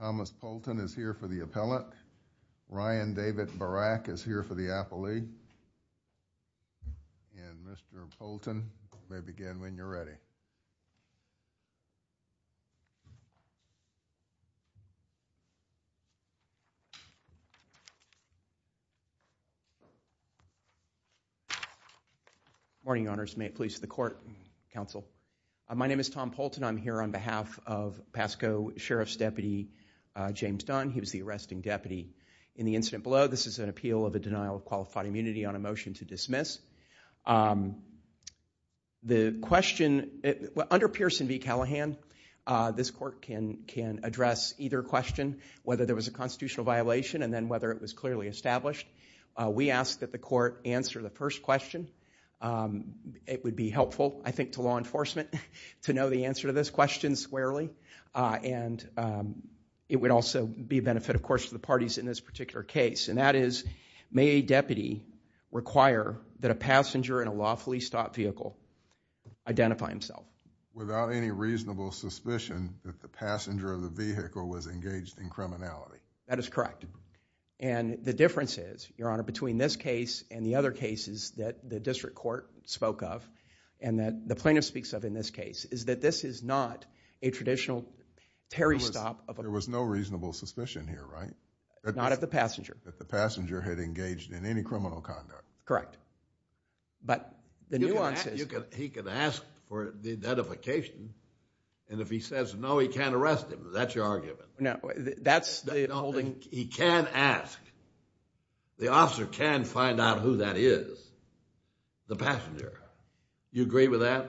Thomas Poulton is here for the appellate. Ryan David Barak is here for the appellee. And Mr. Poulton, you may begin when you're ready. Good morning, Your Honors. May it please the Court, Counsel. My name is Tom Poulton. I'm here on behalf of Pasco Sheriff's Deputy James Dunn. He was the arresting deputy in the incident below. This is an appeal of a denial of qualified immunity on a motion to dismiss. The question, under Pearson v. Callahan, this court can address either question, whether there was a constitutional violation and then whether it was clearly established. We ask that the court answer the first question. It would be helpful, I think, to law enforcement to know the answer to this question squarely. And it would also be a benefit, of course, to the parties in this particular case. And that is, may a deputy require that a passenger in a lawfully stopped vehicle identify himself? Without any reasonable suspicion that the passenger of the vehicle was engaged in criminality. That is correct. And the difference is, Your Honor, between this case and the other cases that the district court spoke of, and that the plaintiff speaks of in this case, is that this is not a traditional parry stop of a... There was no reasonable suspicion here, right? Not of the passenger. That the passenger had engaged in any criminal conduct. Correct. But the nuance is... He could ask for the identification, and if he says no, he can't arrest him. That's your argument? No, that's the... He can ask. The officer can find out who that is. The passenger. You agree with that?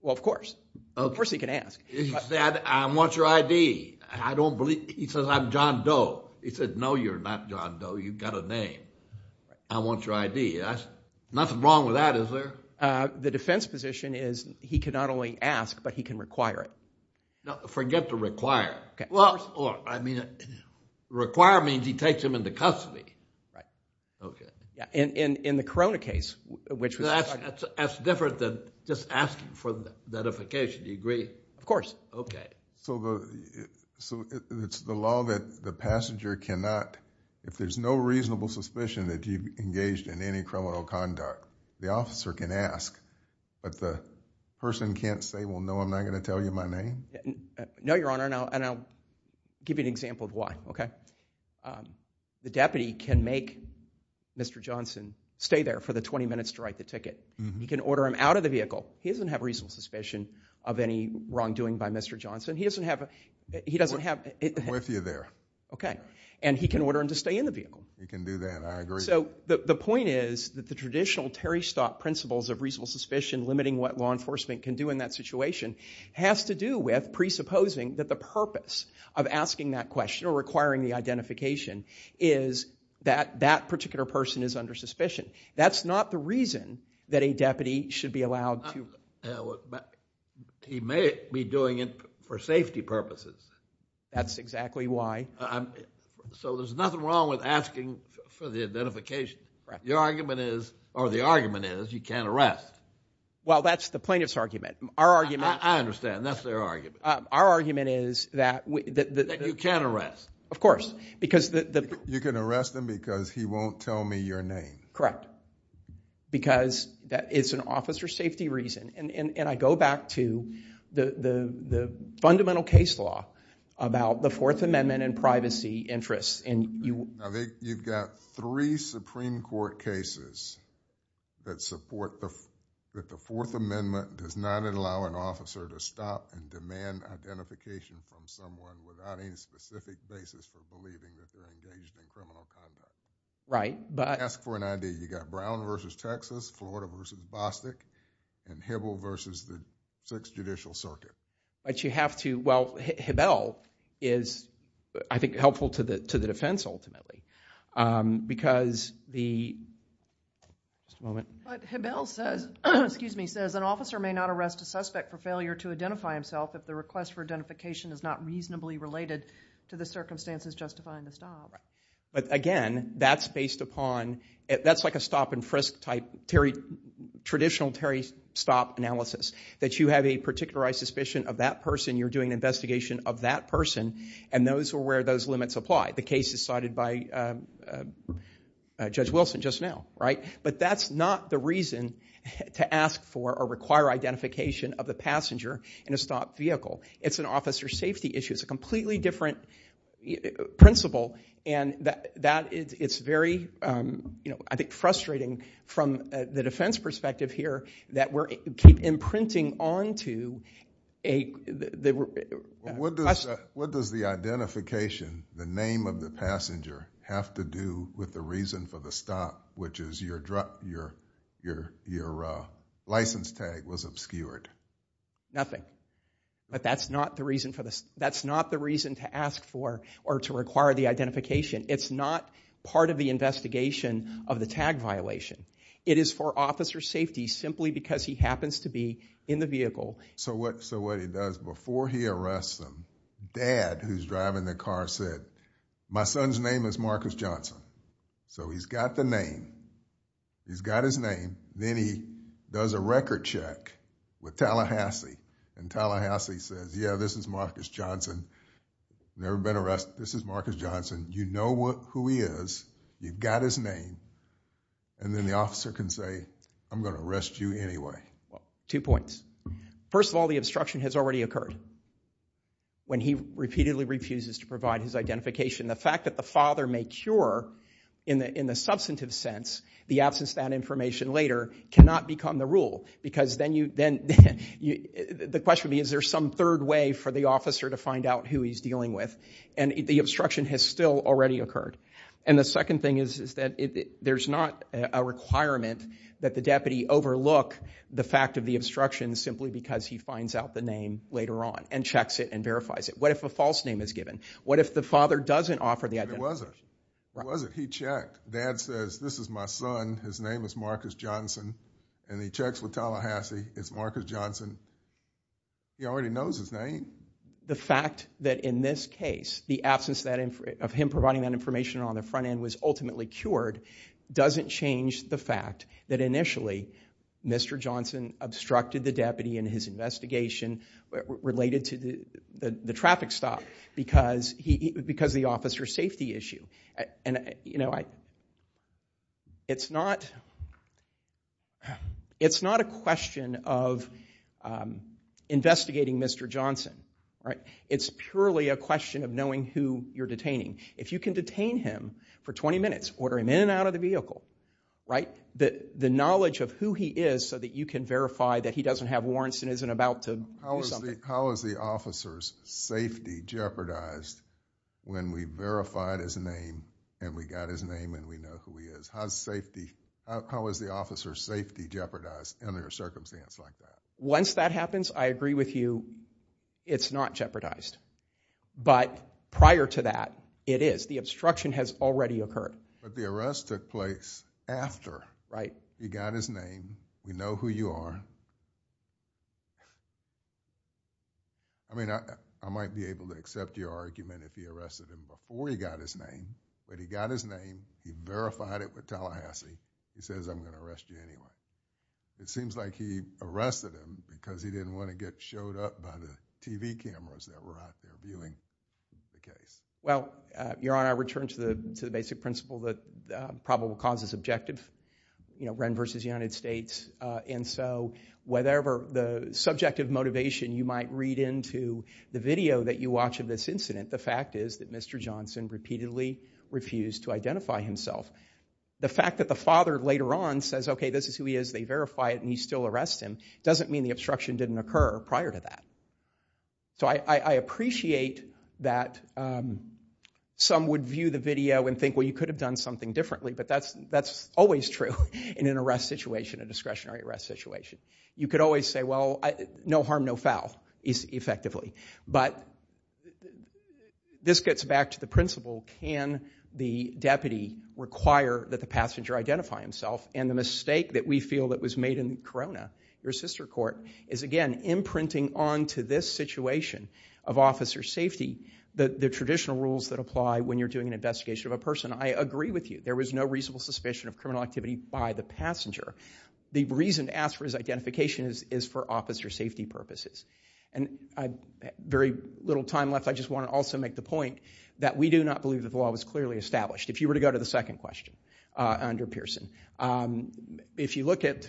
Well, of course. Of course he can ask. He can say, I want your ID. I don't believe... He says, I'm John Doe. He says, no, you're not John Doe. You've got a name. I want your ID. Nothing wrong with that, is there? The defense position is he can not only ask, but he can require it. No, forget the require. Well, I mean... In the custody. Right. Okay. In the Corona case, which was... That's different than just asking for the identification. Do you agree? Of course. Okay. So, it's the law that the passenger cannot... If there's no reasonable suspicion that you've engaged in any criminal conduct, the officer can ask, but the person can't say, well, no, I'm not gonna tell you my name? No, Your Honor, and I'll give you an example of why. Okay? The deputy can make Mr. Johnson stay there for the 20 minutes to write the ticket. He can order him out of the vehicle. He doesn't have reasonable suspicion of any wrongdoing by Mr. Johnson. He doesn't have... He doesn't have... I'm with you there. Okay. And he can order him to stay in the vehicle. He can do that. I agree. So, the point is that the traditional Terry Stock principles of reasonable suspicion, limiting what law enforcement can do in that situation, has to do with presupposing that the purpose of asking that question or requiring the identification is that that particular person is under suspicion. That's not the reason that a deputy should be allowed to... He may be doing it for safety purposes. That's exactly why. So, there's nothing wrong with asking for the identification. Your argument is, or the argument is, you can't arrest. Well, that's the plaintiff's argument. Our argument... Our argument is that... That you can't arrest. Of course. Because the... You can arrest him because he won't tell me your name. Correct. Because it's an officer safety reason. And I go back to the fundamental case law about the Fourth Amendment and privacy interests. You've got three Supreme Court cases that support that the Fourth Amendment does not allow an officer to stop and demand identification from someone without any specific basis for believing that they're engaged in criminal conduct. Right, but... Ask for an ID. You've got Brown versus Texas, Florida versus Bostick, and Hibble versus the Sixth Judicial Circuit. But you have to... Well, Hibble is, I think, helpful to the defense ultimately. Because the... Just a moment. But Hibble says, excuse me, says an officer may not arrest a suspect for failure to identify himself if the request for identification is not reasonably related to the circumstances justifying the stop. But again, that's based upon... That's like a stop-and-frisk type traditional Terry stop analysis. That you have a particularized suspicion of that person, you're doing an investigation of that person, and those are where those limits apply. The case is cited by Judge Wilson just now, right? But that's not the reason to ask for or require identification of the passenger in a stopped vehicle. It's an officer safety issue. It's a completely different principle. And it's very, I think, frustrating from the defense perspective here that we keep imprinting onto a... What does the identification, the name of the passenger, have to do with the reason for the stop, which is your license tag was obscured? Nothing. But that's not the reason to ask for or to require the identification. It's not part of the investigation of the tag violation. It is for officer safety, simply because he happens to be in the vehicle. So what he does, before he arrests them, dad, who's driving the car, said, my son's name is Marcus Johnson. So he's got the name. He's got his name. Then he does a record check with Tallahassee. And Tallahassee says, yeah, this is Marcus Johnson. Never been arrested. This is Marcus Johnson. You know who he is. You've got his name. And then the officer can say, I'm gonna arrest you anyway. Two points. First of all, the obstruction has already occurred when he repeatedly refuses to provide his identification. The fact that the father may cure, in the substantive sense, the absence of that information later, cannot become the rule. Because then the question would be, is there some third way for the officer to find out who he's dealing with? And the obstruction has still already occurred. And the second thing is that there's not a requirement that the deputy overlook the fact of the obstruction, simply because he finds out the name later on and checks it and verifies it. What if a false name is given? What if the father doesn't offer the identification? He doesn't. He doesn't. He checked. Dad says, this is my son. His name is Marcus Johnson. And he checks with Tallahassee. It's Marcus Johnson. He already knows his name. The fact that in this case, the absence of him providing that information on the front end was ultimately cured, doesn't change the fact that initially, Mr. Johnson obstructed the deputy in his investigation related to the traffic stop, because of the officer's safety issue. It's not a question of investigating Mr. Johnson. It's purely a question of knowing who you're detaining. If you can detain him for 20 minutes, order him in and out of the vehicle, the knowledge of who he is, so that you can verify that he doesn't have warrants and isn't about to do something. How is the officer's safety jeopardized when we verified his name and we got his name and we know who he is? How is the officer's safety jeopardized under a circumstance like that? Once that happens, I agree with you, it's not jeopardized. But prior to that, it is. The obstruction has already occurred. But the arrest took place after he got his name, we know who you are. I mean, I might be able to accept your argument if he arrested him before he got his name, but he got his name, he verified it with Tallahassee, he says, I'm gonna arrest you anyway. It seems like he arrested him because he didn't wanna get showed up by the TV cameras that were out there viewing the case. Well, Your Honor, I return to the basic principle that probable cause is objective, you know, Wren versus United States. And so, whatever the subjective motivation you might read into the video that you watch of this incident, the fact is that Mr. Johnson repeatedly refused to identify himself. The fact that the father later on says, okay, this is who he is, they verify it and he still arrests him, doesn't mean the obstruction didn't occur prior to that. So I appreciate that some would view the video and think, well, you could have done something differently, but that's always true in an arrest situation, a discretionary arrest situation. You could always say, well, no harm, no foul, effectively. But this gets back to the principle, can the deputy require that the passenger identify himself? And the mistake that we feel that was made in Corona, your sister court, is again, imprinting onto this situation of officer safety the traditional rules that apply when you're doing an investigation of a person. I agree with you, there was no reasonable suspicion of criminal activity by the passenger. The reason to ask for his identification is for officer safety purposes. And I have very little time left, I just want to also make the point that we do not believe that the law was clearly established. If you were to go to the second question under Pearson, if you look at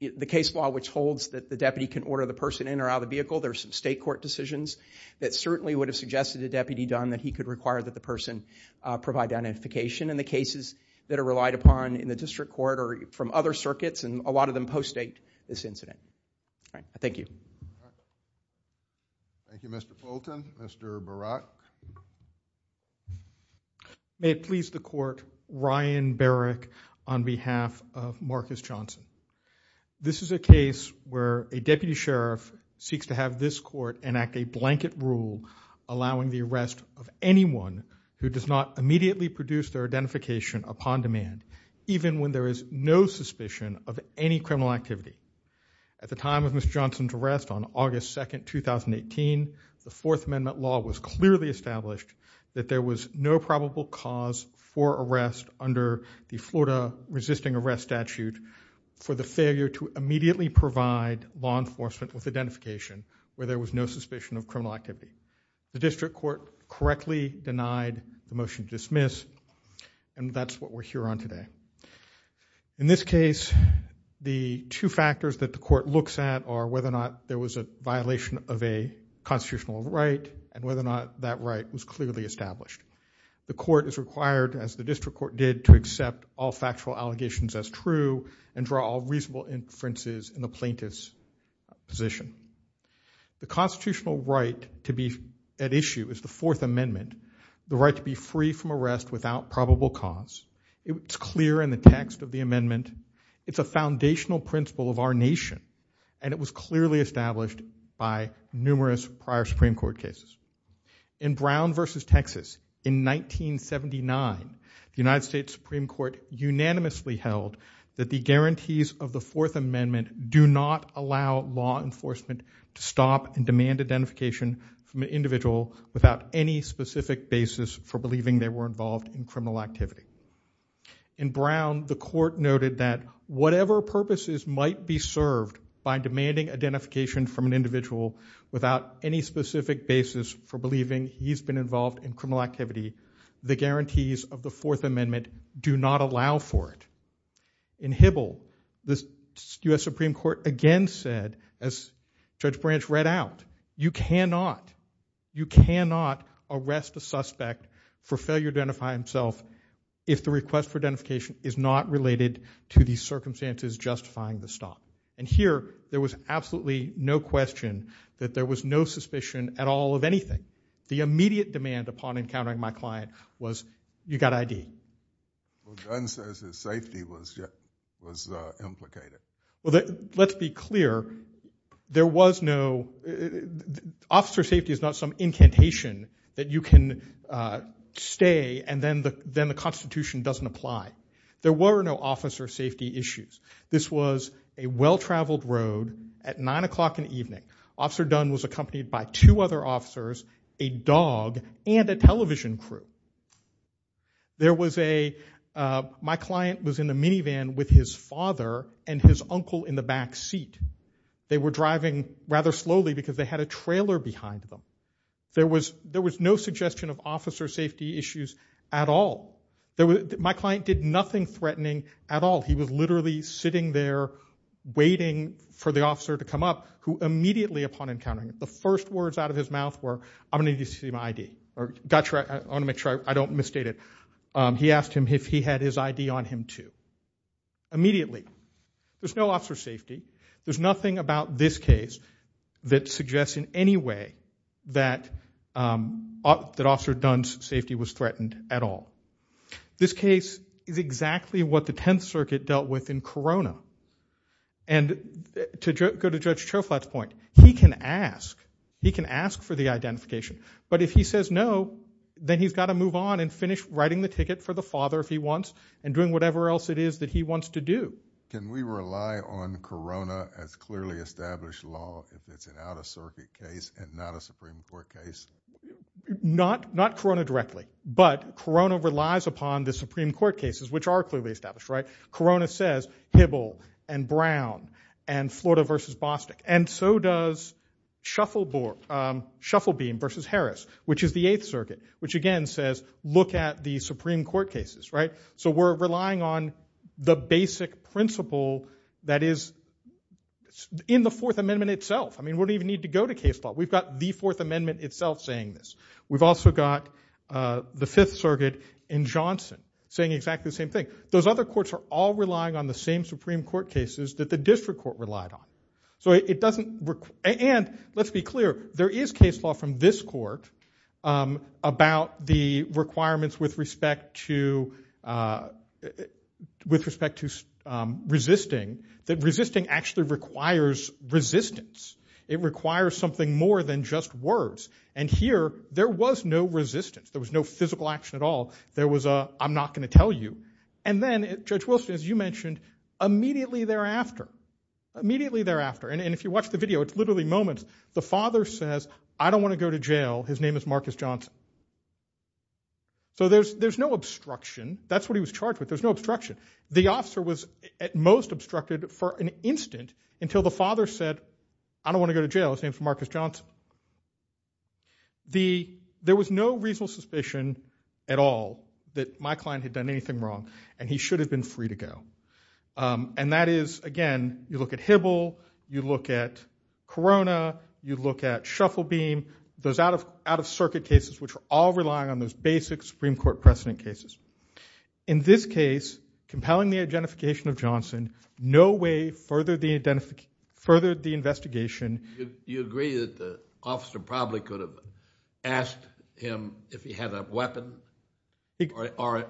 the case law, which holds that the deputy can order the person in or out of the vehicle, there's some state court decisions that certainly would have suggested the deputy done that he could require that the person provide identification in the cases that are relied upon in the district court or from other circuits, and a lot of them post-date this incident. All right, thank you. Thank you, Mr. Fulton. Mr. Barak. May it please the court, Ryan Barak on behalf of Marcus Johnson. This is a case where a deputy sheriff seeks to have this court enact a blanket rule allowing the arrest of anyone who does not immediately produce their identification upon demand, even when there is no suspicion of any criminal activity. At the time of Mr. Johnson's arrest on August 2nd, 2018, the Fourth Amendment law was clearly established that there was no probable cause for arrest under the Florida resisting arrest statute for the failure to immediately provide law enforcement with identification where there was no suspicion of criminal activity. The district court correctly denied the motion to dismiss, and that's what we're here on today. In this case, the two factors that the court looks at are whether or not there was a violation of a constitutional right, and whether or not that right was clearly established. The court is required, as the district court did, to accept all factual allegations as true and draw all reasonable inferences in the plaintiff's position. The constitutional right to be at issue is the Fourth Amendment, the right to be free from arrest without probable cause. It's clear in the text of the amendment. It's a foundational principle of our nation, and it was clearly established by numerous prior Supreme Court cases. In Brown versus Texas in 1979, the United States Supreme Court unanimously held that the guarantees of the Fourth Amendment do not allow law enforcement to stop and demand identification from an individual without any specific basis for believing they were involved in criminal activity. In Brown, the court noted that whatever purposes might be served by demanding identification from an individual without any specific basis for believing he's been involved in criminal activity, the guarantees of the Fourth Amendment do not allow for it. In Hybl, the U.S. Supreme Court again said, as Judge Branch read out, you cannot, you cannot arrest a suspect for failure to identify himself if the request for identification is not related to the circumstances justifying the stop. And here, there was absolutely no question that there was no suspicion at all of anything. The immediate demand upon encountering my client was, you got ID. Well, Gunn says his safety was implicated. Well, let's be clear. There was no. Officer safety is not some incantation that you can stay and then the Constitution doesn't apply. There were no officer safety issues. This was a well-traveled road at nine o'clock in the evening. Officer Gunn was accompanied by two other officers, a dog, and a television crew. There was a, my client was in a minivan with his father and his uncle in the back seat. They were driving rather slowly because they had a trailer behind them. There was no suggestion of officer safety issues at all. My client did nothing threatening at all. He was literally sitting there waiting for the officer to come up, who immediately upon encountering him, the first words out of his mouth were, I'm gonna need you to see my ID. Or, gotcha, I wanna make sure I don't misstate it. He asked him if he had his ID on him too. Immediately. There's no officer safety. There's nothing about this case that suggests in any way that officer Gunn's safety was threatened at all. This case is exactly what the 10th Circuit dealt with in Corona. And to go to Judge Choflat's point, he can ask, he can ask for the identification. But if he says no, then he's gotta move on and finish writing the ticket for the father if he wants and doing whatever else it is that he wants to do. Can we rely on Corona as clearly established law if it's an out-of-circuit case and not a Supreme Court case? Not Corona directly. But Corona relies upon the Supreme Court cases, which are clearly established, right? Corona says Hibble and Brown and Florida versus Bostick. And so does Shufflebeam versus Harris, which is the 8th Circuit, which again says, look at the Supreme Court cases, right? So we're relying on the basic principle that is in the Fourth Amendment itself. I mean, we don't even need to go to case law. We've got the Fourth Amendment itself saying this. We've also got the Fifth Circuit in Johnson saying exactly the same thing. Those other courts are all relying on the same Supreme Court cases that the district court relied on. So it doesn't, and let's be clear, there is case law from this court about the requirements with respect to resisting, that resisting actually requires resistance. It requires something more than just words. And here, there was no resistance. There was no physical action at all. There was a, I'm not gonna tell you. And then Judge Wilson, as you mentioned, immediately thereafter, immediately thereafter, and if you watch the video, it's literally moments, the father says, I don't wanna go to jail. His name is Marcus Johnson. So there's no obstruction. That's what he was charged with. There's no obstruction. The officer was at most obstructed for an instant until the father said, I don't wanna go to jail. His name's Marcus Johnson. The, there was no reasonable suspicion at all that my client had done anything wrong, and he should have been free to go. And that is, again, you look at Hibble, you look at Corona, you look at Shufflebeam, those out-of-circuit cases which are all relying on those basic Supreme Court precedent cases. In this case, compelling the identification of Johnson, no way furthered the investigation. You agree that the officer probably could have asked him if he had a weapon, or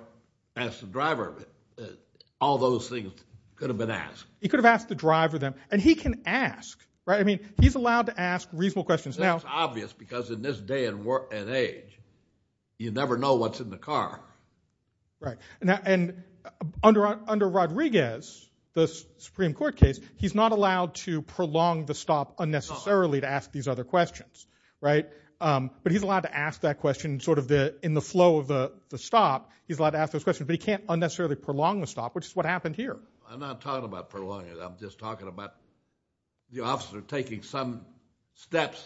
asked the driver of it. All those things could have been asked. He could have asked the driver of them. And he can ask, right? I mean, he's allowed to ask reasonable questions. It's obvious, because in this day and age, you never know what's in the car. Right, and under Rodriguez, the Supreme Court case, he's not allowed to prolong the stop unnecessarily to ask these other questions, right? But he's allowed to ask that question sort of in the flow of the stop. He's allowed to ask those questions, but he can't unnecessarily prolong the stop, which is what happened here. I'm not talking about prolonging it. I'm just talking about the officer taking some steps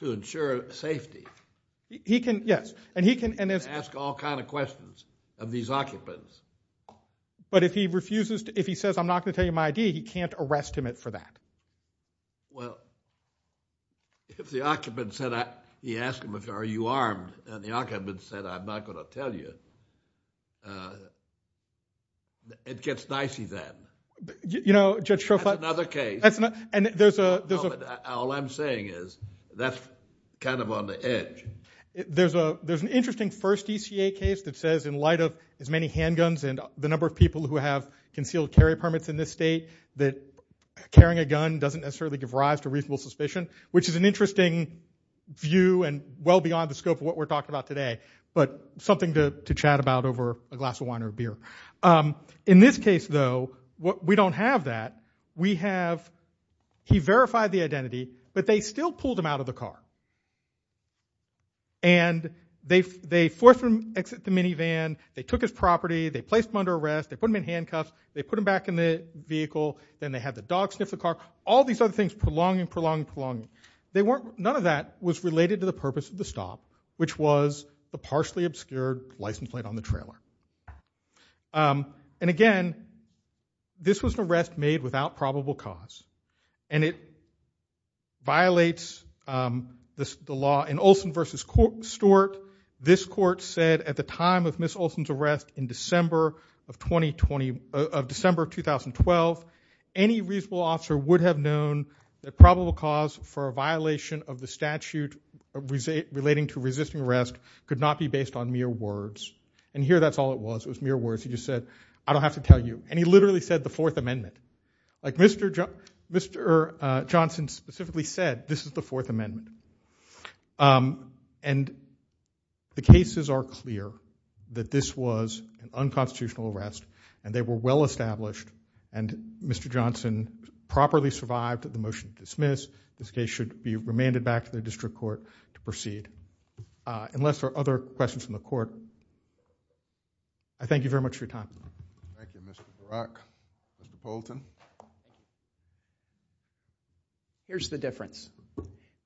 to ensure safety. He can, yes. And he can ask all kind of questions of these occupants. But if he says, I'm not going to tell you my ID, he can't arrest him for that. Well, if the occupant said, he asked him, are you armed? And the occupant said, I'm not going to tell you, it gets dicey then. You know, Judge Trofanoff. That's another case. And there's a. All I'm saying is, that's kind of on the edge. There's an interesting first ECA case that says in light of as many handguns and the number of people who have concealed carry permits in this state, that carrying a gun doesn't necessarily give rise to reasonable suspicion, which is an interesting view and well beyond the scope of what we're talking about today. But something to chat about over a glass of wine or beer. In this case, though, we don't have that. He verified the identity, but they still pulled him out of the car. And they forced him to exit the minivan. They took his property. They placed him under arrest. They put him in handcuffs. They put him back in the vehicle. Then they had the dog sniff the car. All these other things prolonging, prolonging, prolonging. None of that was related to the purpose of the stop, which was the partially obscured license plate on the trailer. And again, this was an arrest made without probable cause. And it violates the law. In Olson v. Stewart, this court said at the time of Ms. Olson's arrest in December of 2012, any reasonable officer would have known that probable cause for a violation of the statute relating to resisting arrest could not be based on mere words. And here, that's all it was. It was mere words. He just said, I don't have to tell you. And he literally said the Fourth Amendment. Like Mr. Johnson specifically said, this is the Fourth Amendment. And the cases are clear that this was an unconstitutional arrest. And they were well-established. And Mr. Johnson properly survived the motion to dismiss. This case should be remanded back to the district court to proceed. Unless there are other questions from the court, I thank you very much for your time. Thank you, Mr. Barak. Mr. Poulton. Here's the difference.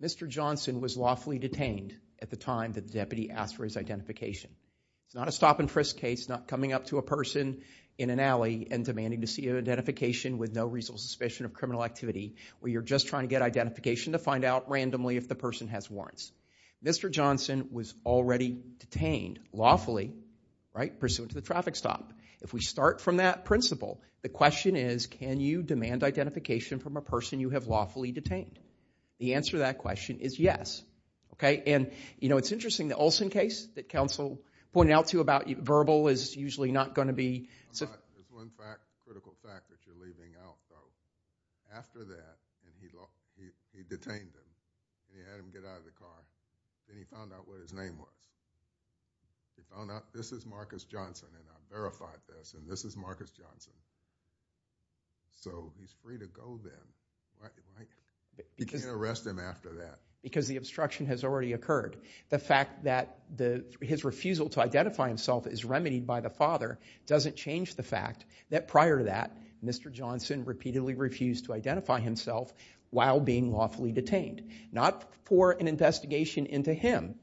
Mr. Johnson was lawfully detained at the time that the deputy asked for his identification. It's not a stop and frisk case, not coming up to a person in an alley and demanding to see an identification with no reasonable suspicion of criminal activity, where you're just trying to get identification to find out randomly if the person has warrants. Mr. Johnson was already detained lawfully pursuant to the traffic stop. If we start from that principle, the question is, can you demand identification from a person you have lawfully detained? The answer to that question is yes. And it's interesting, the Olson case that counsel pointed out to you about verbal is usually not going to be. There's one fact, critical fact, that you're leaving out though. After that, he detained him. He had him get out of the car. Then he found out what his name was. This is Marcus Johnson, and I verified this. And this is Marcus Johnson. So he's free to go then. You can't arrest him after that. Because the obstruction has already occurred. The fact that his refusal to identify himself is remedied by the father doesn't change the fact that prior to that, Mr. Johnson repeatedly refused to identify himself while being lawfully detained. Not for an investigation into him.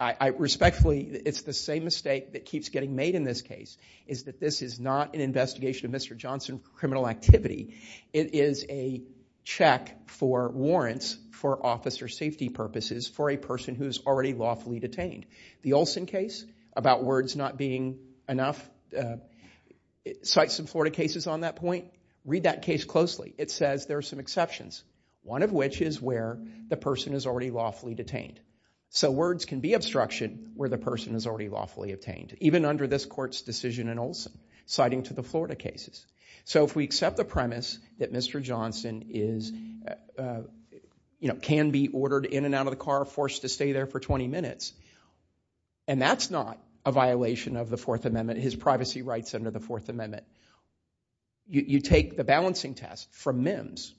I respectfully, it's the same mistake that keeps getting made in this case, is that this is not an investigation of Mr. Johnson's criminal activity. It is a check for warrants for officer safety purposes for a person who is already lawfully detained. The Olson case, about words not being enough, cites some Florida cases on that point. Read that case closely. It says there are some exceptions, one of which is where the person is already lawfully detained. So words can be obstruction where the person is already lawfully obtained, even under this court's decision in Olson, citing to the Florida cases. So if we accept the premise that Mr. Johnson can be ordered in and out of the car, forced to stay there for 20 minutes, and that's not a violation of the Fourth Amendment, his privacy rights under the Fourth Amendment. You take the balancing test from MIMS,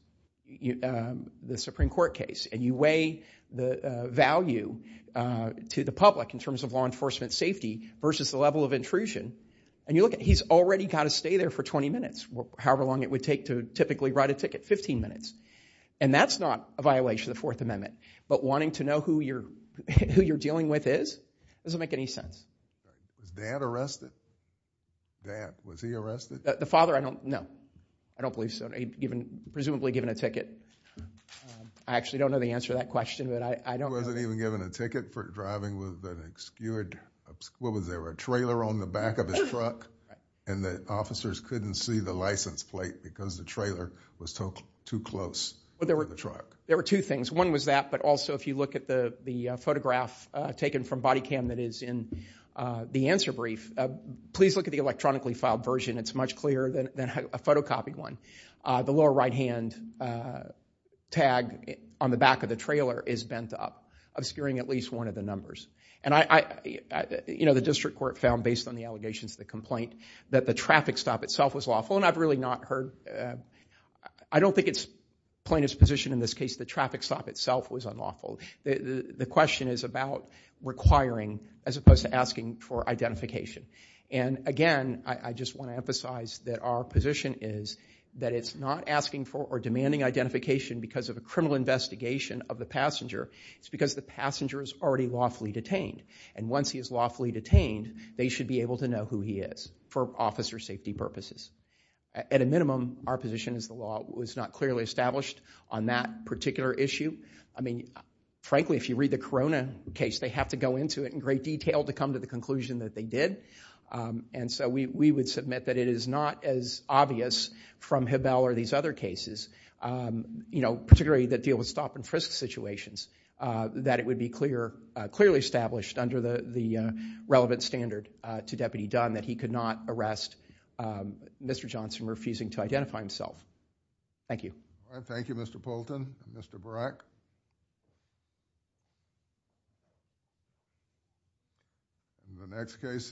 the Supreme Court case, and you weigh the value to the public in terms of law enforcement safety versus the level of intrusion. And you look at, he's already got to stay there for 20 minutes, however long it would take to typically write a ticket, 15 minutes. And that's not a violation of the Fourth Amendment. But wanting to know who you're dealing with is doesn't make any sense. Was dad arrested? Dad, was he arrested? The father, I don't know. I don't believe so. Presumably given a ticket. I actually don't know the answer to that question, but I don't know. He wasn't even given a ticket for driving with an obscured, what was there, a trailer on the back of his truck? And the officers couldn't see the license plate because the trailer was too close to the truck. There were two things. One was that, but also if you look at the photograph taken from body cam that is in the answer brief, please look at the electronically filed version. It's much clearer than a photocopied one. The lower right hand tag on the back of the trailer is bent up, obscuring at least one of the numbers. And the district court found, based on the allegations of the complaint, that the traffic stop itself was lawful. And I've really not heard, I don't think it's plaintiff's position in this case that traffic stop itself was unlawful. The question is about requiring as opposed to asking for identification. And again, I just want to emphasize that our position is that it's not asking for or demanding identification because of a criminal investigation of the passenger. It's because the passenger is already lawfully detained. And once he is lawfully detained, they should be able to know who he is for officer safety purposes. At a minimum, our position is the law was not clearly established on that particular issue. I mean, frankly, if you read the Corona case, they have to go into it in great detail to come to the conclusion that they did. And so we would submit that it is not as obvious from Hebel or these other cases, particularly that deal with stop and frisk situations, that it would be clearly established under the relevant standard to Deputy Dunn that he could not arrest Mr. Johnson refusing to identify himself. Thank you. Thank you, Mr. Poulton. Mr. Barak.